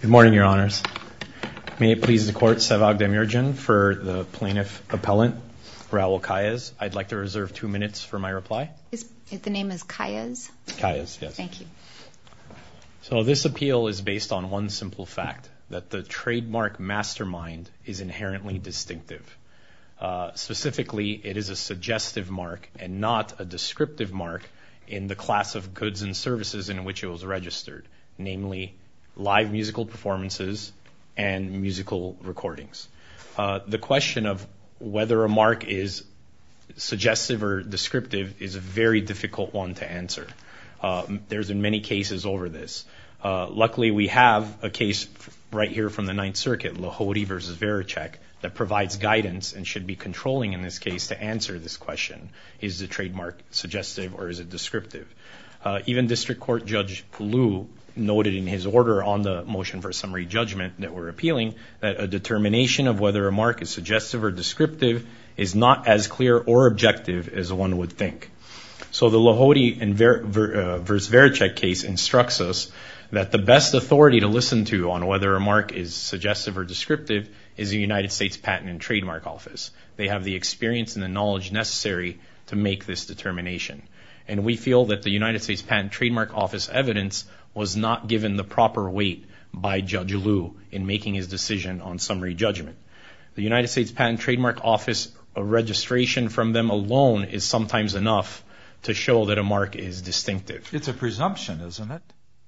Good morning, Your Honors. May it please the Court, Sevag Demirjian for the Plaintiff-Appellant Raul Caiz. I'd like to reserve two minutes for my reply. The name is Caiz? Caiz, yes. Thank you. So this appeal is based on one simple fact, that the trademark mastermind is inherently distinctive. Specifically, it is a suggestive mark and not a descriptive mark in the class of goods and services in which it was registered, namely, live musical performances and musical recordings. The question of whether a mark is suggestive or descriptive is a very difficult one to answer. There's been many cases over this. Luckily, we have a case right here from the Ninth Circuit, Lohody v. Veracek, that provides guidance and should be controlling in this case to answer this question, is the trademark suggestive or is descriptive. Even District Court Judge Poulou noted in his order on the motion for summary judgment that we're appealing, that a determination of whether a mark is suggestive or descriptive is not as clear or objective as one would think. So the Lohody v. Veracek case instructs us that the best authority to listen to on whether a mark is suggestive or descriptive is the United States Patent and Trademark Office. They have the experience and the knowledge necessary to make this determination. And we feel that the United States Patent and Trademark Office evidence was not given the proper weight by Judge Liu in making his decision on summary judgment. The United States Patent and Trademark Office, a registration from them alone is sometimes enough to show that a mark is distinctive. It's a presumption, isn't it?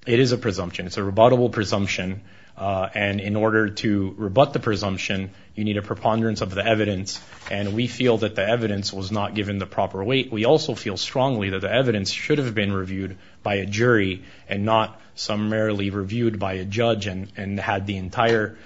It is a presumption. It's a rebuttable presumption. And in order to rebut the presumption, you need a preponderance of the evidence. And we feel that the evidence was not given the proper weight. We also feel strongly that the evidence should have been reviewed by a jury and not summarily reviewed by a judge and had the entire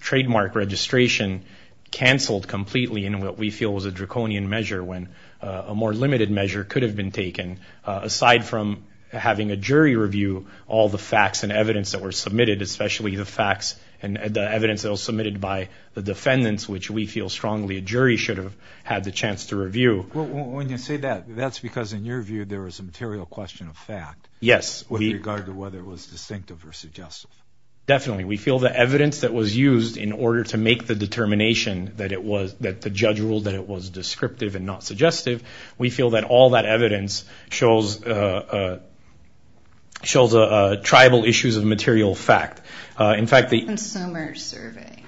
trademark registration cancelled completely in what we feel was a draconian measure when a more limited measure could have been taken. Aside from having a jury review all the facts and evidence that were submitted, especially the facts and the evidence that was submitted by the defendants, which we feel strongly a jury should have had the chance to review. When you say that, that's because in your view there was a material question of fact. Yes. With regard to whether it was distinctive or suggestive. Definitely. We feel the evidence that was used in order to make the determination that the judge ruled that it was descriptive and not suggestive, we feel that all that evidence shows tribal issues of material fact. In fact... Consumer survey.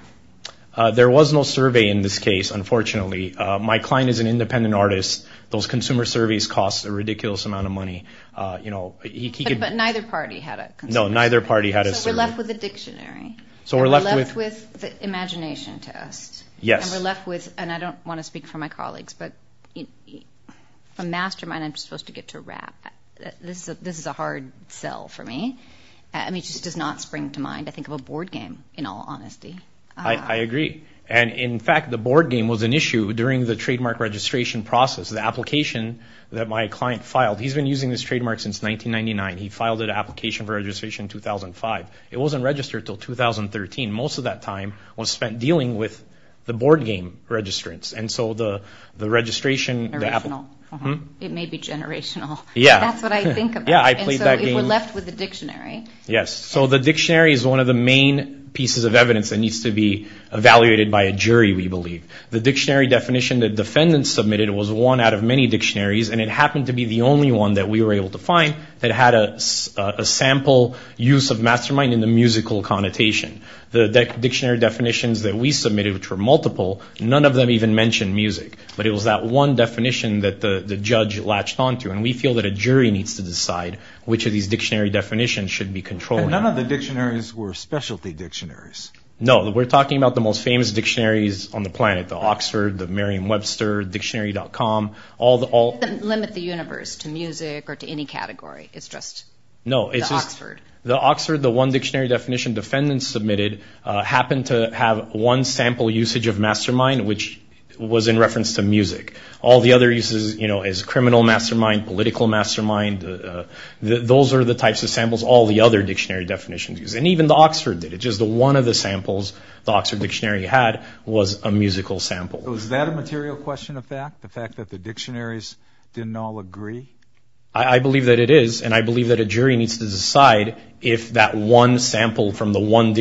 There was no survey in this case, unfortunately. My client is an independent artist. Those consumer surveys cost a ridiculous amount of money. But neither party had a consumer survey. No, neither party had a survey. So we're left with a dictionary. So we're left with... And we're left with the imagination test. Yes. And we're left with, and I don't want to speak for my colleagues, but a mastermind, I'm supposed to get to wrap. This is a hard sell for me. I mean, it just does not spring to mind. I think of a board game, in all honesty. I agree. And in fact, the board game was an issue during the trademark registration process. The application that my client filed, he's been using this trademark since 1999. He filed an application for registration in 2005. It wasn't registered until 2013. Most of that time was spent dealing with the board game registrants. And so the registration... Original. It may be generational. Yeah. That's what I think about. And so we're left with the dictionary. Yes. So the dictionary is one of the main pieces of evidence that needs to be evaluated by a jury, we believe. The dictionary definition that defendants submitted was one out of many dictionaries, and it happened to be the only one that we were able to find that had a sample use of mastermind in the musical connotation. The dictionary definitions that we submitted, which were multiple, none of them even mentioned music. But it was that one which of these dictionary definitions should be controlled. None of the dictionaries were specialty dictionaries. No, we're talking about the most famous dictionaries on the planet. The Oxford, the Merriam-Webster, dictionary.com, all the... Limit the universe to music or to any category. It's just the Oxford. No, it's just the Oxford. The one dictionary definition defendants submitted happened to have one sample usage of mastermind, which was in reference to music. All the other criminal mastermind, political mastermind, those are the types of samples all the other dictionary definitions use. And even the Oxford did it. Just the one of the samples the Oxford dictionary had was a musical sample. Was that a material question of fact? The fact that the dictionaries didn't all agree? I believe that it is, and I believe that a jury needs to decide if that one sample from the one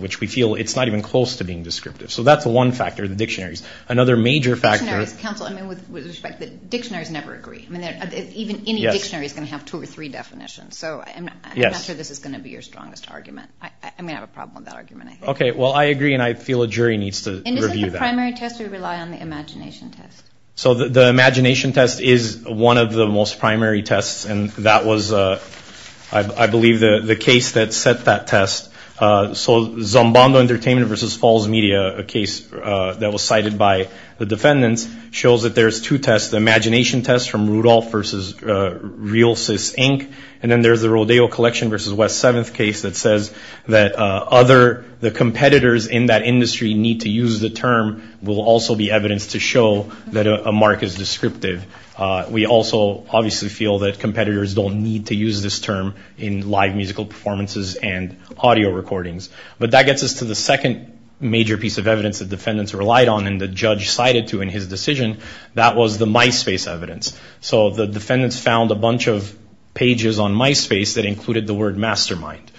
which we feel it's not even close to being descriptive. So that's the one factor, the dictionaries. Another major factor... Dictionaries, counsel, I mean, with respect, the dictionaries never agree. I mean, even any dictionary is going to have two or three definitions. So I'm not sure this is going to be your strongest argument. I mean, I have a problem with that argument, I think. Okay. Well, I agree, and I feel a jury needs to review that. And is it the primary test or rely on the imagination test? So the imagination test is one of the most primary tests. And that was, I believe, the case that set that test. So Zambando Entertainment versus Falls Media, a case that was cited by the defendants, shows that there's two tests. The imagination test from Rudolph versus Realsys Inc. And then there's the Rodeo Collection versus West Seventh case that says that other, the competitors in that industry need to use the term will also be evidence to show that a mark is descriptive. We also obviously feel that competitors don't need to use this term in live musical performances and audio recordings. But that gets us to the second major piece of evidence that defendants relied on and the judge cited to in his decision. That was the MySpace evidence. So the defendants found a bunch of pages on MySpace that included the word mastermind.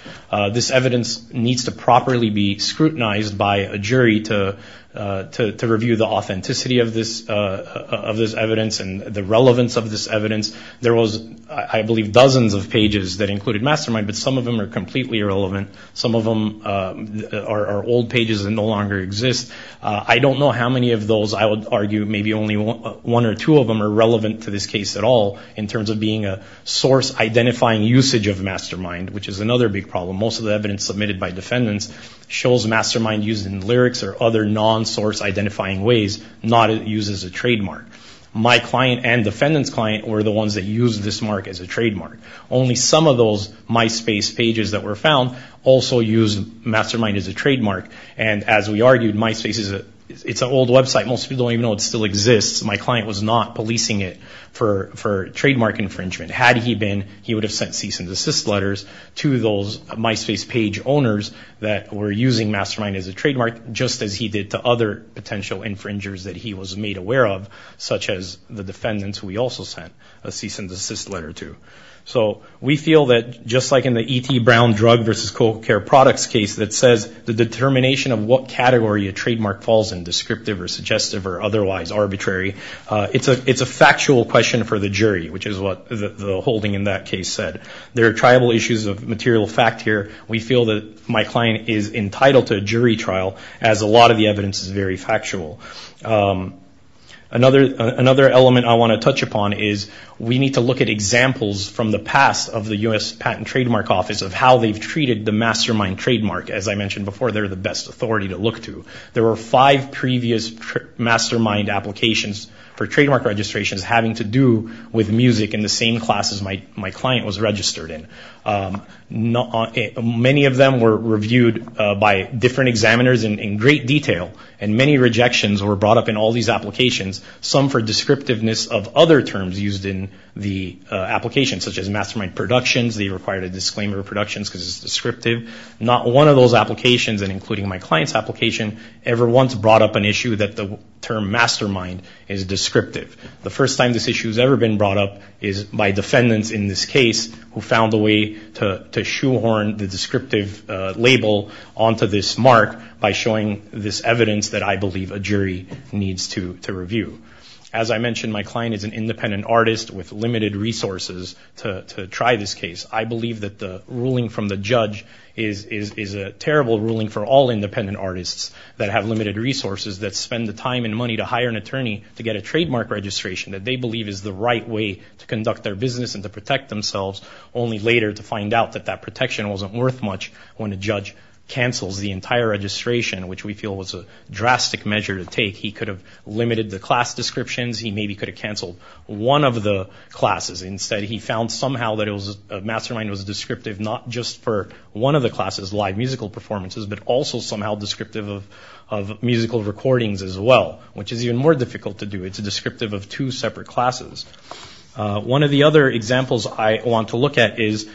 This evidence needs to properly be scrutinized by a jury to review the authenticity of this evidence and the relevance of this evidence. There was, I believe, dozens of pages that included mastermind, but some of them are completely irrelevant. Some of them are old pages and no longer exist. I don't know how many of those, I would argue, maybe only one or two of them are relevant to this case at all in terms of being a source identifying usage of mastermind, which is another big problem. Most of the evidence submitted by not used as a trademark. My client and defendant's client were the ones that used this mark as a trademark. Only some of those MySpace pages that were found also used mastermind as a trademark. And as we argued, MySpace is an old website. Most people don't even know it still exists. My client was not policing it for trademark infringement. Had he been, he would have sent cease and desist letters to those MySpace page owners that were using mastermind as a trademark, just as he did to other potential infringers that he was made aware of, such as the defendants we also sent a cease and desist letter to. So we feel that just like in the E.T. Brown drug versus co-care products case that says the determination of what category a trademark falls in, descriptive or suggestive or otherwise arbitrary, it's a factual question for the jury, which is what the holding in that case said. There are tribal issues of material fact here. We feel that my as a lot of the evidence is very factual. Another element I want to touch upon is we need to look at examples from the past of the U.S. Patent and Trademark Office of how they've treated the mastermind trademark. As I mentioned before, they're the best authority to look to. There were five previous mastermind applications for trademark registrations having to do with music in the same class as my client was registered in. Many of them were reviewed by different examiners in great detail, and many rejections were brought up in all these applications, some for descriptiveness of other terms used in the application, such as mastermind productions. They required a disclaimer of productions because it's descriptive. Not one of those applications, and including my client's application, ever once brought up an issue that the term mastermind is descriptive. The first time this issue has ever been brought up is by defendants in this case who found a way to shoehorn the descriptive label onto this mark by showing this evidence that I believe a jury needs to review. As I mentioned, my client is an independent artist with limited resources to try this case. I believe that the ruling from the judge is a terrible ruling for all independent artists that have limited resources that spend the time and money to hire an attorney to get a trademark registration that they believe is the right way to conduct their business and to protect themselves, only later to find out that that protection wasn't worth much when a judge cancels the entire registration, which we feel was a drastic measure to take. He could have limited the class descriptions. He maybe could have canceled one of the classes. Instead, he found somehow that mastermind was descriptive not just for one of the classes, live musical performances, but also somehow descriptive of musical recordings as well, which is even more difficult to do. It's descriptive of two separate classes. One of the other examples I want to look at is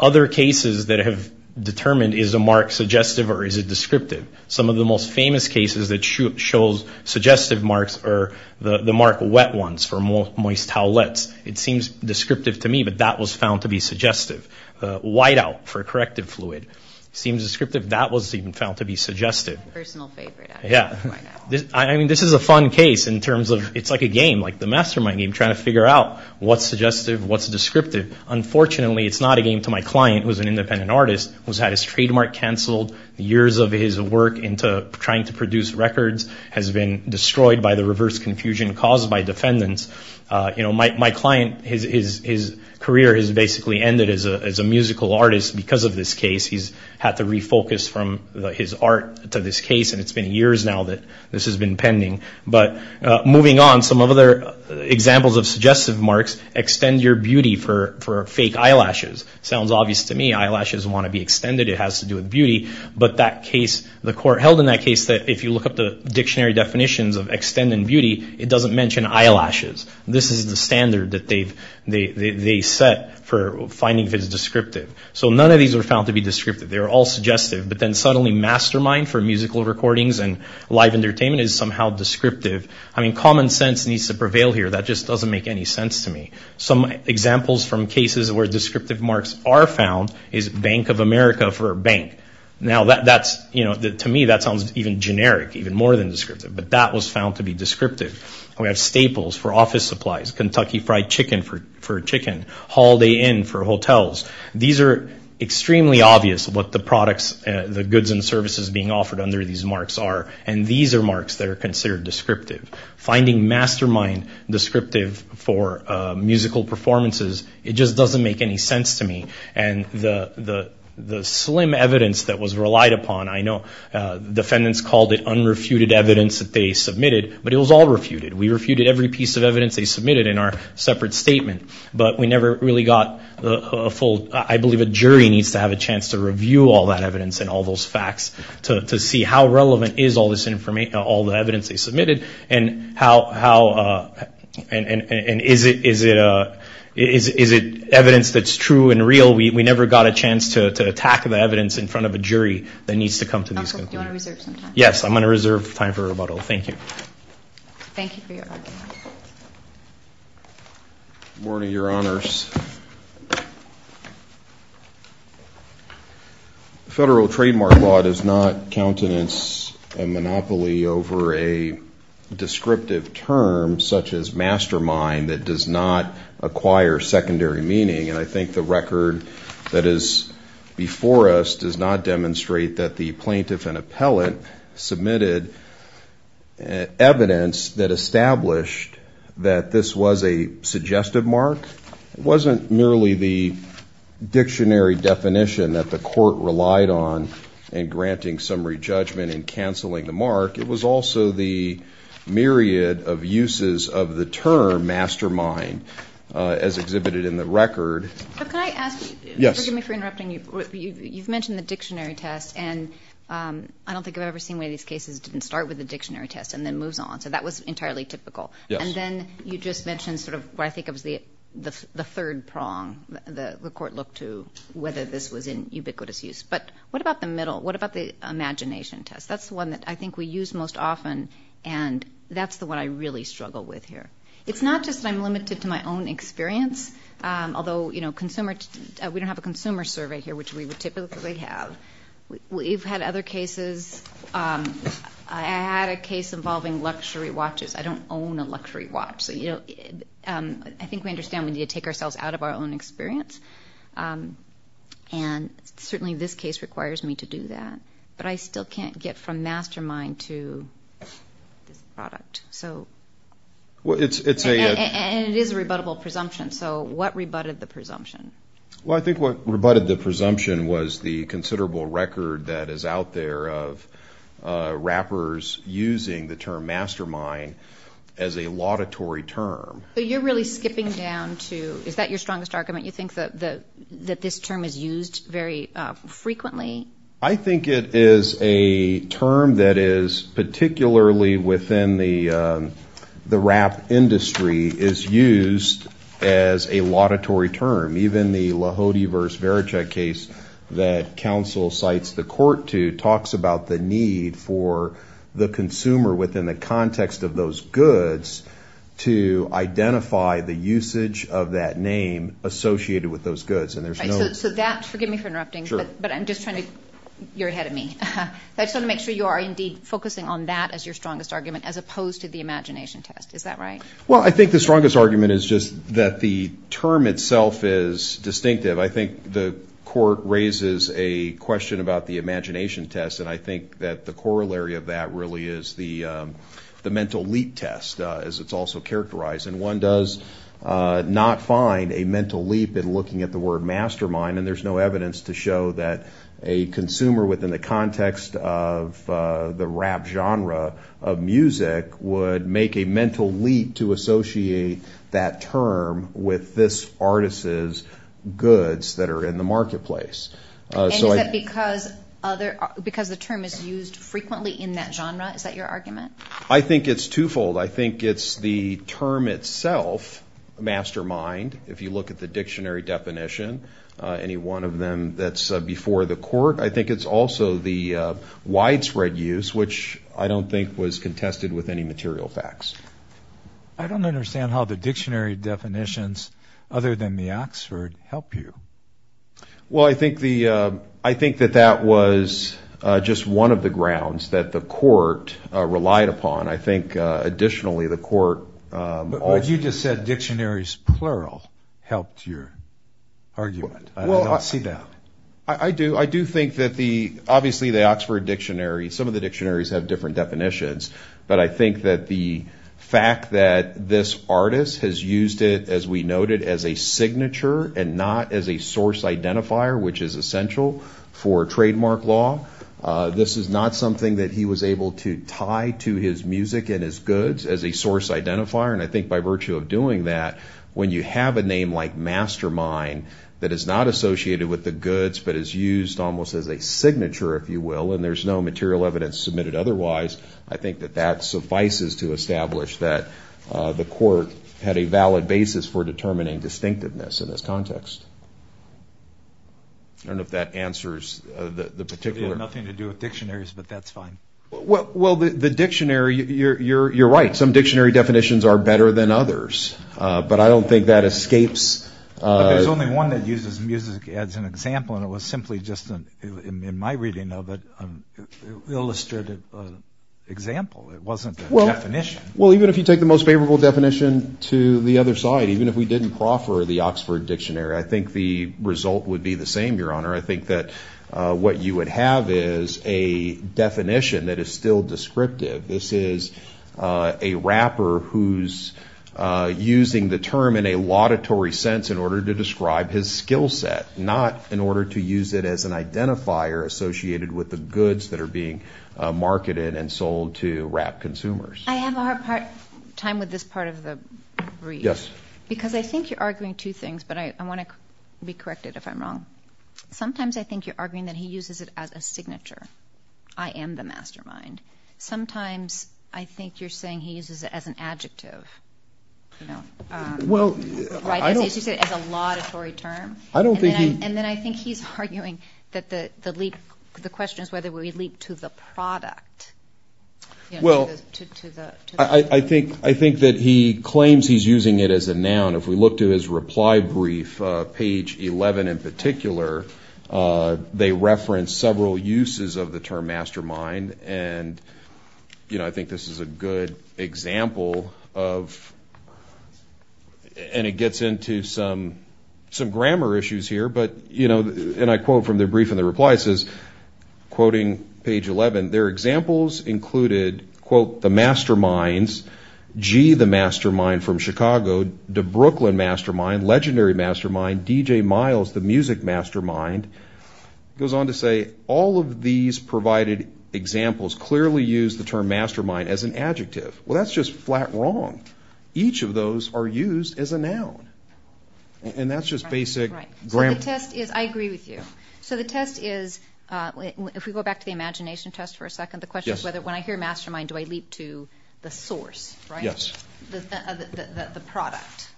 other cases that have determined is a mark suggestive or is it descriptive. Some of the most famous cases that show suggestive marks are the mark wet ones for moist towelettes. It seems descriptive to me, but that was found to be suggestive. Whiteout for corrective fluid seems descriptive. That was even found to be suggestive. My personal favorite. Yeah. I mean, this is a fun case in terms of it's like a game, like the mastermind game, trying to figure out what's suggestive, what's descriptive. Unfortunately, it's not a game to my client, who's an independent artist, who's had his trademark canceled. Years of his work into trying to produce records has been destroyed by the reverse confusion caused by defendants. My client, his career has basically ended as a musical artist because of this case. He's had to refocus from his art to this case, and it's been years now that this has been pending. But moving on, some other examples of suggestive marks, extend your beauty for fake eyelashes. Sounds obvious to me. Eyelashes want to be extended. It has to do with beauty, but the court held in that case that if you look up the dictionary definitions of extend and beauty, it doesn't mention eyelashes. This is the standard that they set for finding if it's descriptive. So none of these were found to be descriptive. They were all suggestive, but then suddenly mastermind for musical recordings and live entertainment is somehow descriptive. I mean, common sense needs to prevail here. That just doesn't make any sense to me. Some examples from cases where descriptive marks are found is Bank of America for a bank. Now, to me, that sounds even generic, even more than descriptive, but that was found to be descriptive. We have staples for office supplies, Kentucky Fried Chicken for chicken, Holiday Inn for hotels. These are extremely obvious what the products, the goods and services being offered under these marks are, and these are marks that are considered descriptive. Finding mastermind descriptive for musical performances, it just doesn't make any sense to me. And the slim evidence that was relied upon, I know defendants called it unrefuted evidence that they submitted, but it was all refuted. We refuted every piece of evidence they submitted in our separate statement, but we never really got a full, I believe a jury needs to have a chance to review all that evidence and all those facts to see how relevant is all this information, all the evidence they submitted and how, and is it evidence that's true and real? We never got a chance to attack the evidence in front of a jury that needs to come to these. Yes, I'm going to reserve time for rebuttal. Thank you. Thank you for your argument. Good morning, your honors. The federal trademark law does not countenance a monopoly over a descriptive term such as mastermind that does not acquire secondary meaning. And I think the record that is before us does not evidence that established that this was a suggestive mark. It wasn't merely the dictionary definition that the court relied on in granting summary judgment and canceling the mark. It was also the myriad of uses of the term mastermind as exhibited in the record. Can I ask, forgive me for interrupting you, you've mentioned the dictionary test and I don't think I've ever seen one of these cases didn't start with the dictionary test and then moves on. So that was entirely typical. And then you just mentioned sort of what I think of as the third prong, the court looked to whether this was in ubiquitous use. But what about the middle? What about the imagination test? That's the one that I think we use most often and that's the one I really struggle with here. It's not just that I'm limited to my own experience, although we don't have a we've had other cases. I had a case involving luxury watches. I don't own a luxury watch. I think we understand we need to take ourselves out of our own experience. And certainly this case requires me to do that. But I still can't get from mastermind to this product. And it is a rebuttable presumption. So what rebutted the presumption? Well, I think what rebutted the presumption was the considerable record that is out there of wrappers using the term mastermind as a laudatory term. So you're really skipping down to, is that your strongest argument? You think that this term is used very frequently? I think it is a term that is particularly within the industry is used as a laudatory term. Even the Lahode versus Verochek case that counsel cites the court to talks about the need for the consumer within the context of those goods to identify the usage of that name associated with those goods. And there's no... So that, forgive me for interrupting, but I'm just trying to, you're ahead of me. I just want to make sure you are indeed focusing on that as your strongest argument as opposed to the Well, I think the strongest argument is just that the term itself is distinctive. I think the court raises a question about the imagination test. And I think that the corollary of that really is the mental leap test as it's also characterized. And one does not find a mental leap in looking at the word mastermind. And there's no evidence to show that a consumer within the context of the rap genre of music would make a mental leap to associate that term with this artist's goods that are in the marketplace. And is that because the term is used frequently in that genre? Is that your argument? I think it's twofold. I think it's the term itself, mastermind, if you look at the dictionary definition, any one of them that's before the court. I think it's also the widespread use, which I don't think was contested with any material facts. I don't understand how the dictionary definitions other than the Oxford help you. Well, I think that that was just one of the grounds that the court relied upon. I think additionally, the court... But you just said dictionaries plural helped your argument. I don't think that the, obviously the Oxford dictionary, some of the dictionaries have different definitions, but I think that the fact that this artist has used it, as we noted, as a signature and not as a source identifier, which is essential for trademark law. This is not something that he was able to tie to his music and his goods as a source identifier. And I think by virtue of doing that, when you have a name like mastermind that is not associated with the goods, but is used almost as a signature, if you will, and there's no material evidence submitted otherwise, I think that that suffices to establish that the court had a valid basis for determining distinctiveness in this context. I don't know if that answers the particular... Nothing to do with dictionaries, but that's fine. Well, the dictionary, you're right. Some dictionary definitions are better than others, but I don't think that escapes... There's only one that uses music as an example, and it was simply just, in my reading of it, illustrated example. It wasn't a definition. Well, even if you take the most favorable definition to the other side, even if we didn't proffer the Oxford dictionary, I think the result would be the same, Your Honor. I think that what you would have is a definition that is still descriptive. This is a rapper who's using the term in a laudatory sense in order to describe his skill set, not in order to use it as an identifier associated with the goods that are being marketed and sold to rap consumers. I have a hard time with this part of the brief. Yes. Because I think you're arguing two things, but I want to be corrected if I'm wrong. Sometimes, I think you're arguing that he uses it as a signature. I am the mastermind. Sometimes, I think you're saying he uses it as an adjective, as you said, as a laudatory term. And then I think he's arguing that the question is whether we leap to the product. I think that he claims he's using it as a noun. If we look to his reply brief, page 11 in particular, they reference several uses of the term mastermind. I think this is a good example of, and it gets into some grammar issues here, but, and I quote from the brief and the reply, it says, quoting page 11, their examples included, quote, the masterminds, G, the mastermind from Chicago, the Brooklyn mastermind, legendary mastermind, DJ Miles, the music mastermind. It goes on to say, all of these provided examples clearly use the term mastermind as an adjective. Well, that's just flat wrong. Each of those are used as a noun. And that's just basic grammar. So the test is, I agree with you. So the test is, if we go back to the imagination test for a second, when I hear mastermind, do I leap to the source, the product?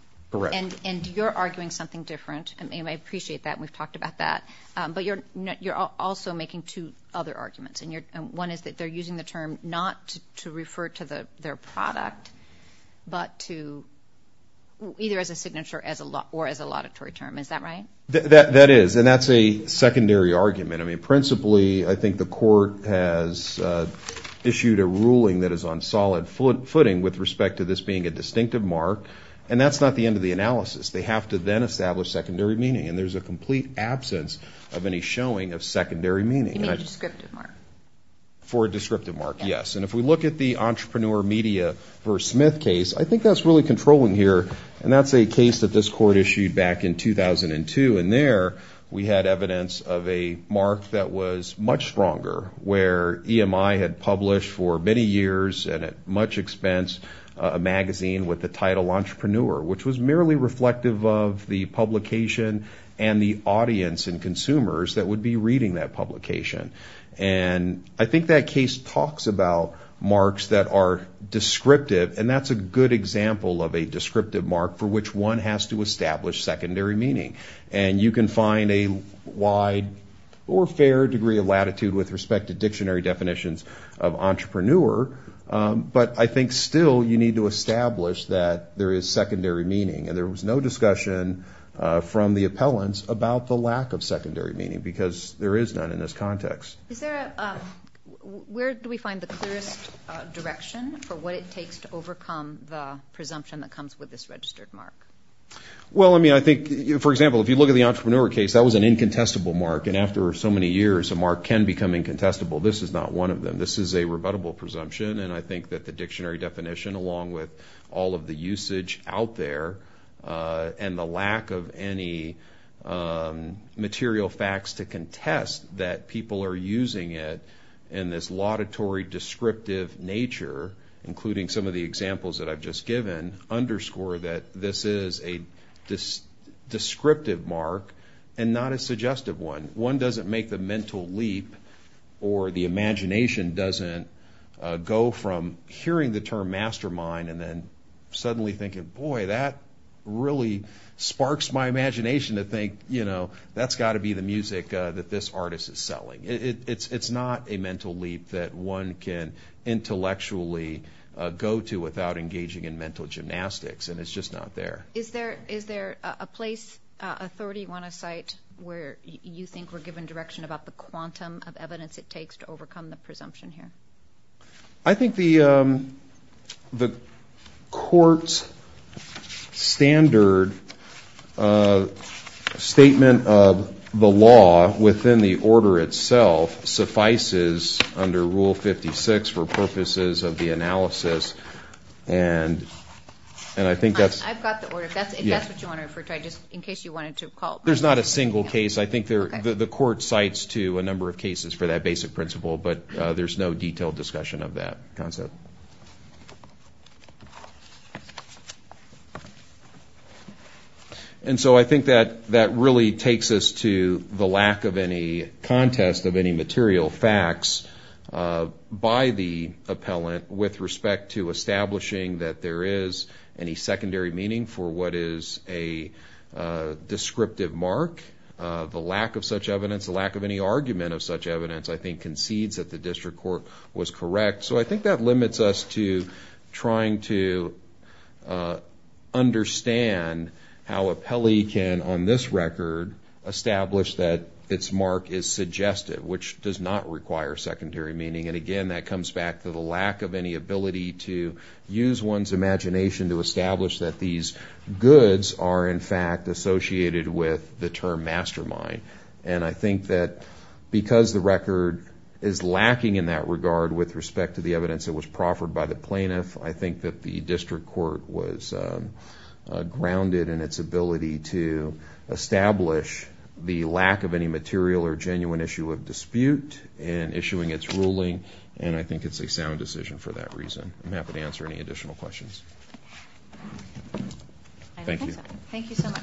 And you're arguing something different. I appreciate that. And we've talked about that, but you're also making two other arguments. And one is that they're using the term not to refer to their product, but to either as a signature or as a laudatory term. Is that right? That is. And that's a secondary argument. I mean, issued a ruling that is on solid footing with respect to this being a distinctive mark. And that's not the end of the analysis. They have to then establish secondary meaning. And there's a complete absence of any showing of secondary meaning. You need a descriptive mark. For a descriptive mark, yes. And if we look at the entrepreneur media versus Smith case, I think that's really controlling here. And that's a case that this court issued back in 2002. And we had evidence of a mark that was much stronger, where EMI had published for many years, and at much expense, a magazine with the title entrepreneur, which was merely reflective of the publication and the audience and consumers that would be reading that publication. And I think that case talks about marks that are descriptive. And that's a good example of descriptive mark for which one has to establish secondary meaning. And you can find a wide or fair degree of latitude with respect to dictionary definitions of entrepreneur. But I think still, you need to establish that there is secondary meaning. And there was no discussion from the appellants about the lack of secondary meaning, because there is none in this context. Where do we find the clearest direction for what it takes to overcome the presumption that comes with this registered mark? Well, I mean, I think, for example, if you look at the entrepreneur case, that was an incontestable mark. And after so many years, a mark can become incontestable. This is not one of them. This is a rebuttable presumption. And I think that the dictionary definition, along with all of the usage out there, and the lack of any material facts to contest that people are using it in this laudatory, descriptive nature, including some of the this is a descriptive mark and not a suggestive one. One doesn't make the mental leap or the imagination doesn't go from hearing the term mastermind and then suddenly thinking, boy, that really sparks my imagination to think, you know, that's got to be the music that this artist is selling. It's not a mental leap that one can intellectually go to without engaging in mental gymnastics. And it's just not there. Is there a place, authority you want to cite where you think we're given direction about the quantum of evidence it takes to overcome the presumption here? I think the court's standard statement of the law within the order itself suffices under Rule 56 for purposes of the analysis. And I think that's... I've got the order. If that's what you want to refer to, just in case you wanted to call... There's not a single case. I think the court cites to a number of cases for that basic principle, but there's no detailed discussion of that concept. And so I think that really takes us to the lack of any contest of any material facts by the appellant with respect to establishing that there is any secondary meaning for what is a descriptive mark. The lack of such evidence, the lack of any argument of such evidence, I think limits us to trying to understand how appellee can, on this record, establish that its mark is suggested, which does not require secondary meaning. And again, that comes back to the lack of any ability to use one's imagination to establish that these goods are in fact associated with the term mastermind. And I think that because the record is lacking in that regard with respect to the evidence that was proffered by the plaintiff, I think that the district court was grounded in its ability to establish the lack of any material or genuine issue of dispute in issuing its ruling. And I think it's a sound decision for that reason. I'm happy to answer any additional questions. Thank you. Thank you so much.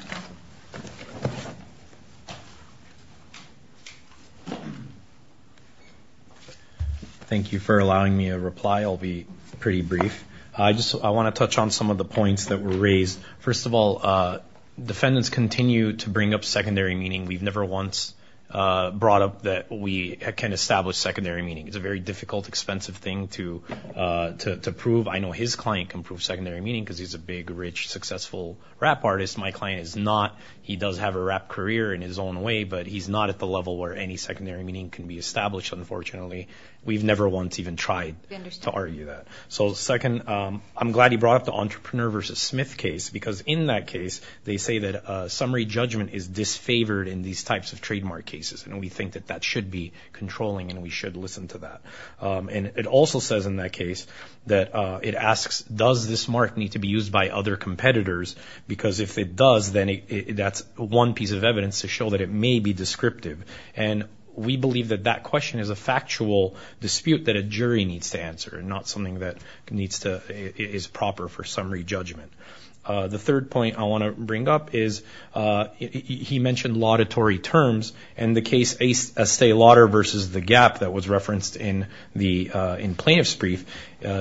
Thank you for allowing me a reply. I'll be pretty brief. I want to touch on some of the points that were raised. First of all, defendants continue to bring up secondary meaning. We've never once brought up that we can establish secondary meaning. It's a very difficult, expensive thing to prove. I know his client can prove secondary meaning because he's a big, rich, successful rap artist. My client is not. He does have a rap career in his own way, but he's not at the level where any secondary meaning can be established, unfortunately. We've never once even tried to argue that. So second, I'm glad you brought up the entrepreneur versus Smith case because in that case, they say that summary judgment is disfavored in these types of trademark cases. And we think that that should be controlling and we should listen to that. And it also says in that case that it asks, does this mark need to be used by other competitors? Because if it does, then that's one piece of evidence to show that it may be descriptive. And we believe that that question is a factual dispute that a jury needs to answer and not something that is proper for summary judgment. The third point I want to bring up is he mentioned laudatory terms and the case Estee Lauder versus The Gap that was referenced in Plaintiff's Brief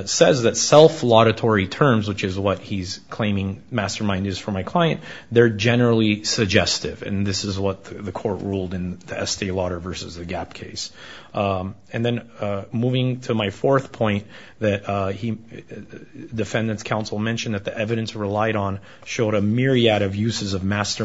says that self-laudatory terms, which is what he's claiming mastermind is for my client, they're generally suggestive. And this is what the court ruled in the Estee Lauder versus The Gap case. And then moving to my fourth point that defendants counsel mentioned that the evidence relied on showed a myriad of uses of lyrics.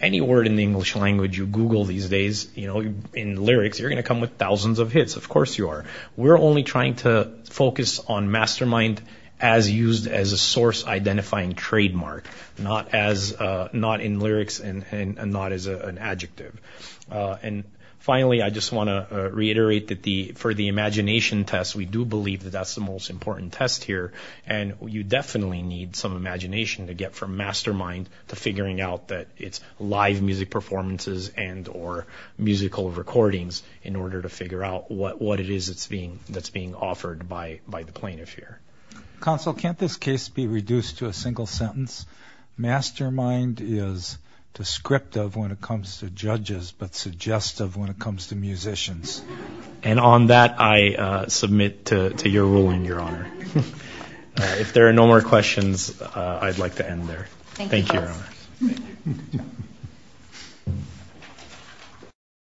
Any word in the English language you Google these days in lyrics, you're going to come with thousands of hits. Of course you are. We're only trying to focus on mastermind as used as a source identifying trademark, not in lyrics and not as an adjective. And finally, I just want to reiterate that for the imagination test, we do believe that that's the most important test here. And you definitely need some imagination to get from mastermind to figuring out that it's live music performances and or musical recordings in order to figure out what it is that's being offered by the plaintiff here. Counsel, can't this case be reduced to a single sentence? Mastermind is descriptive when it comes to judges, but suggestive when it comes to musicians. And on that, I submit to your ruling, Your Honor. If there are no more questions, I'd like to end there. Thank you, Your Honor.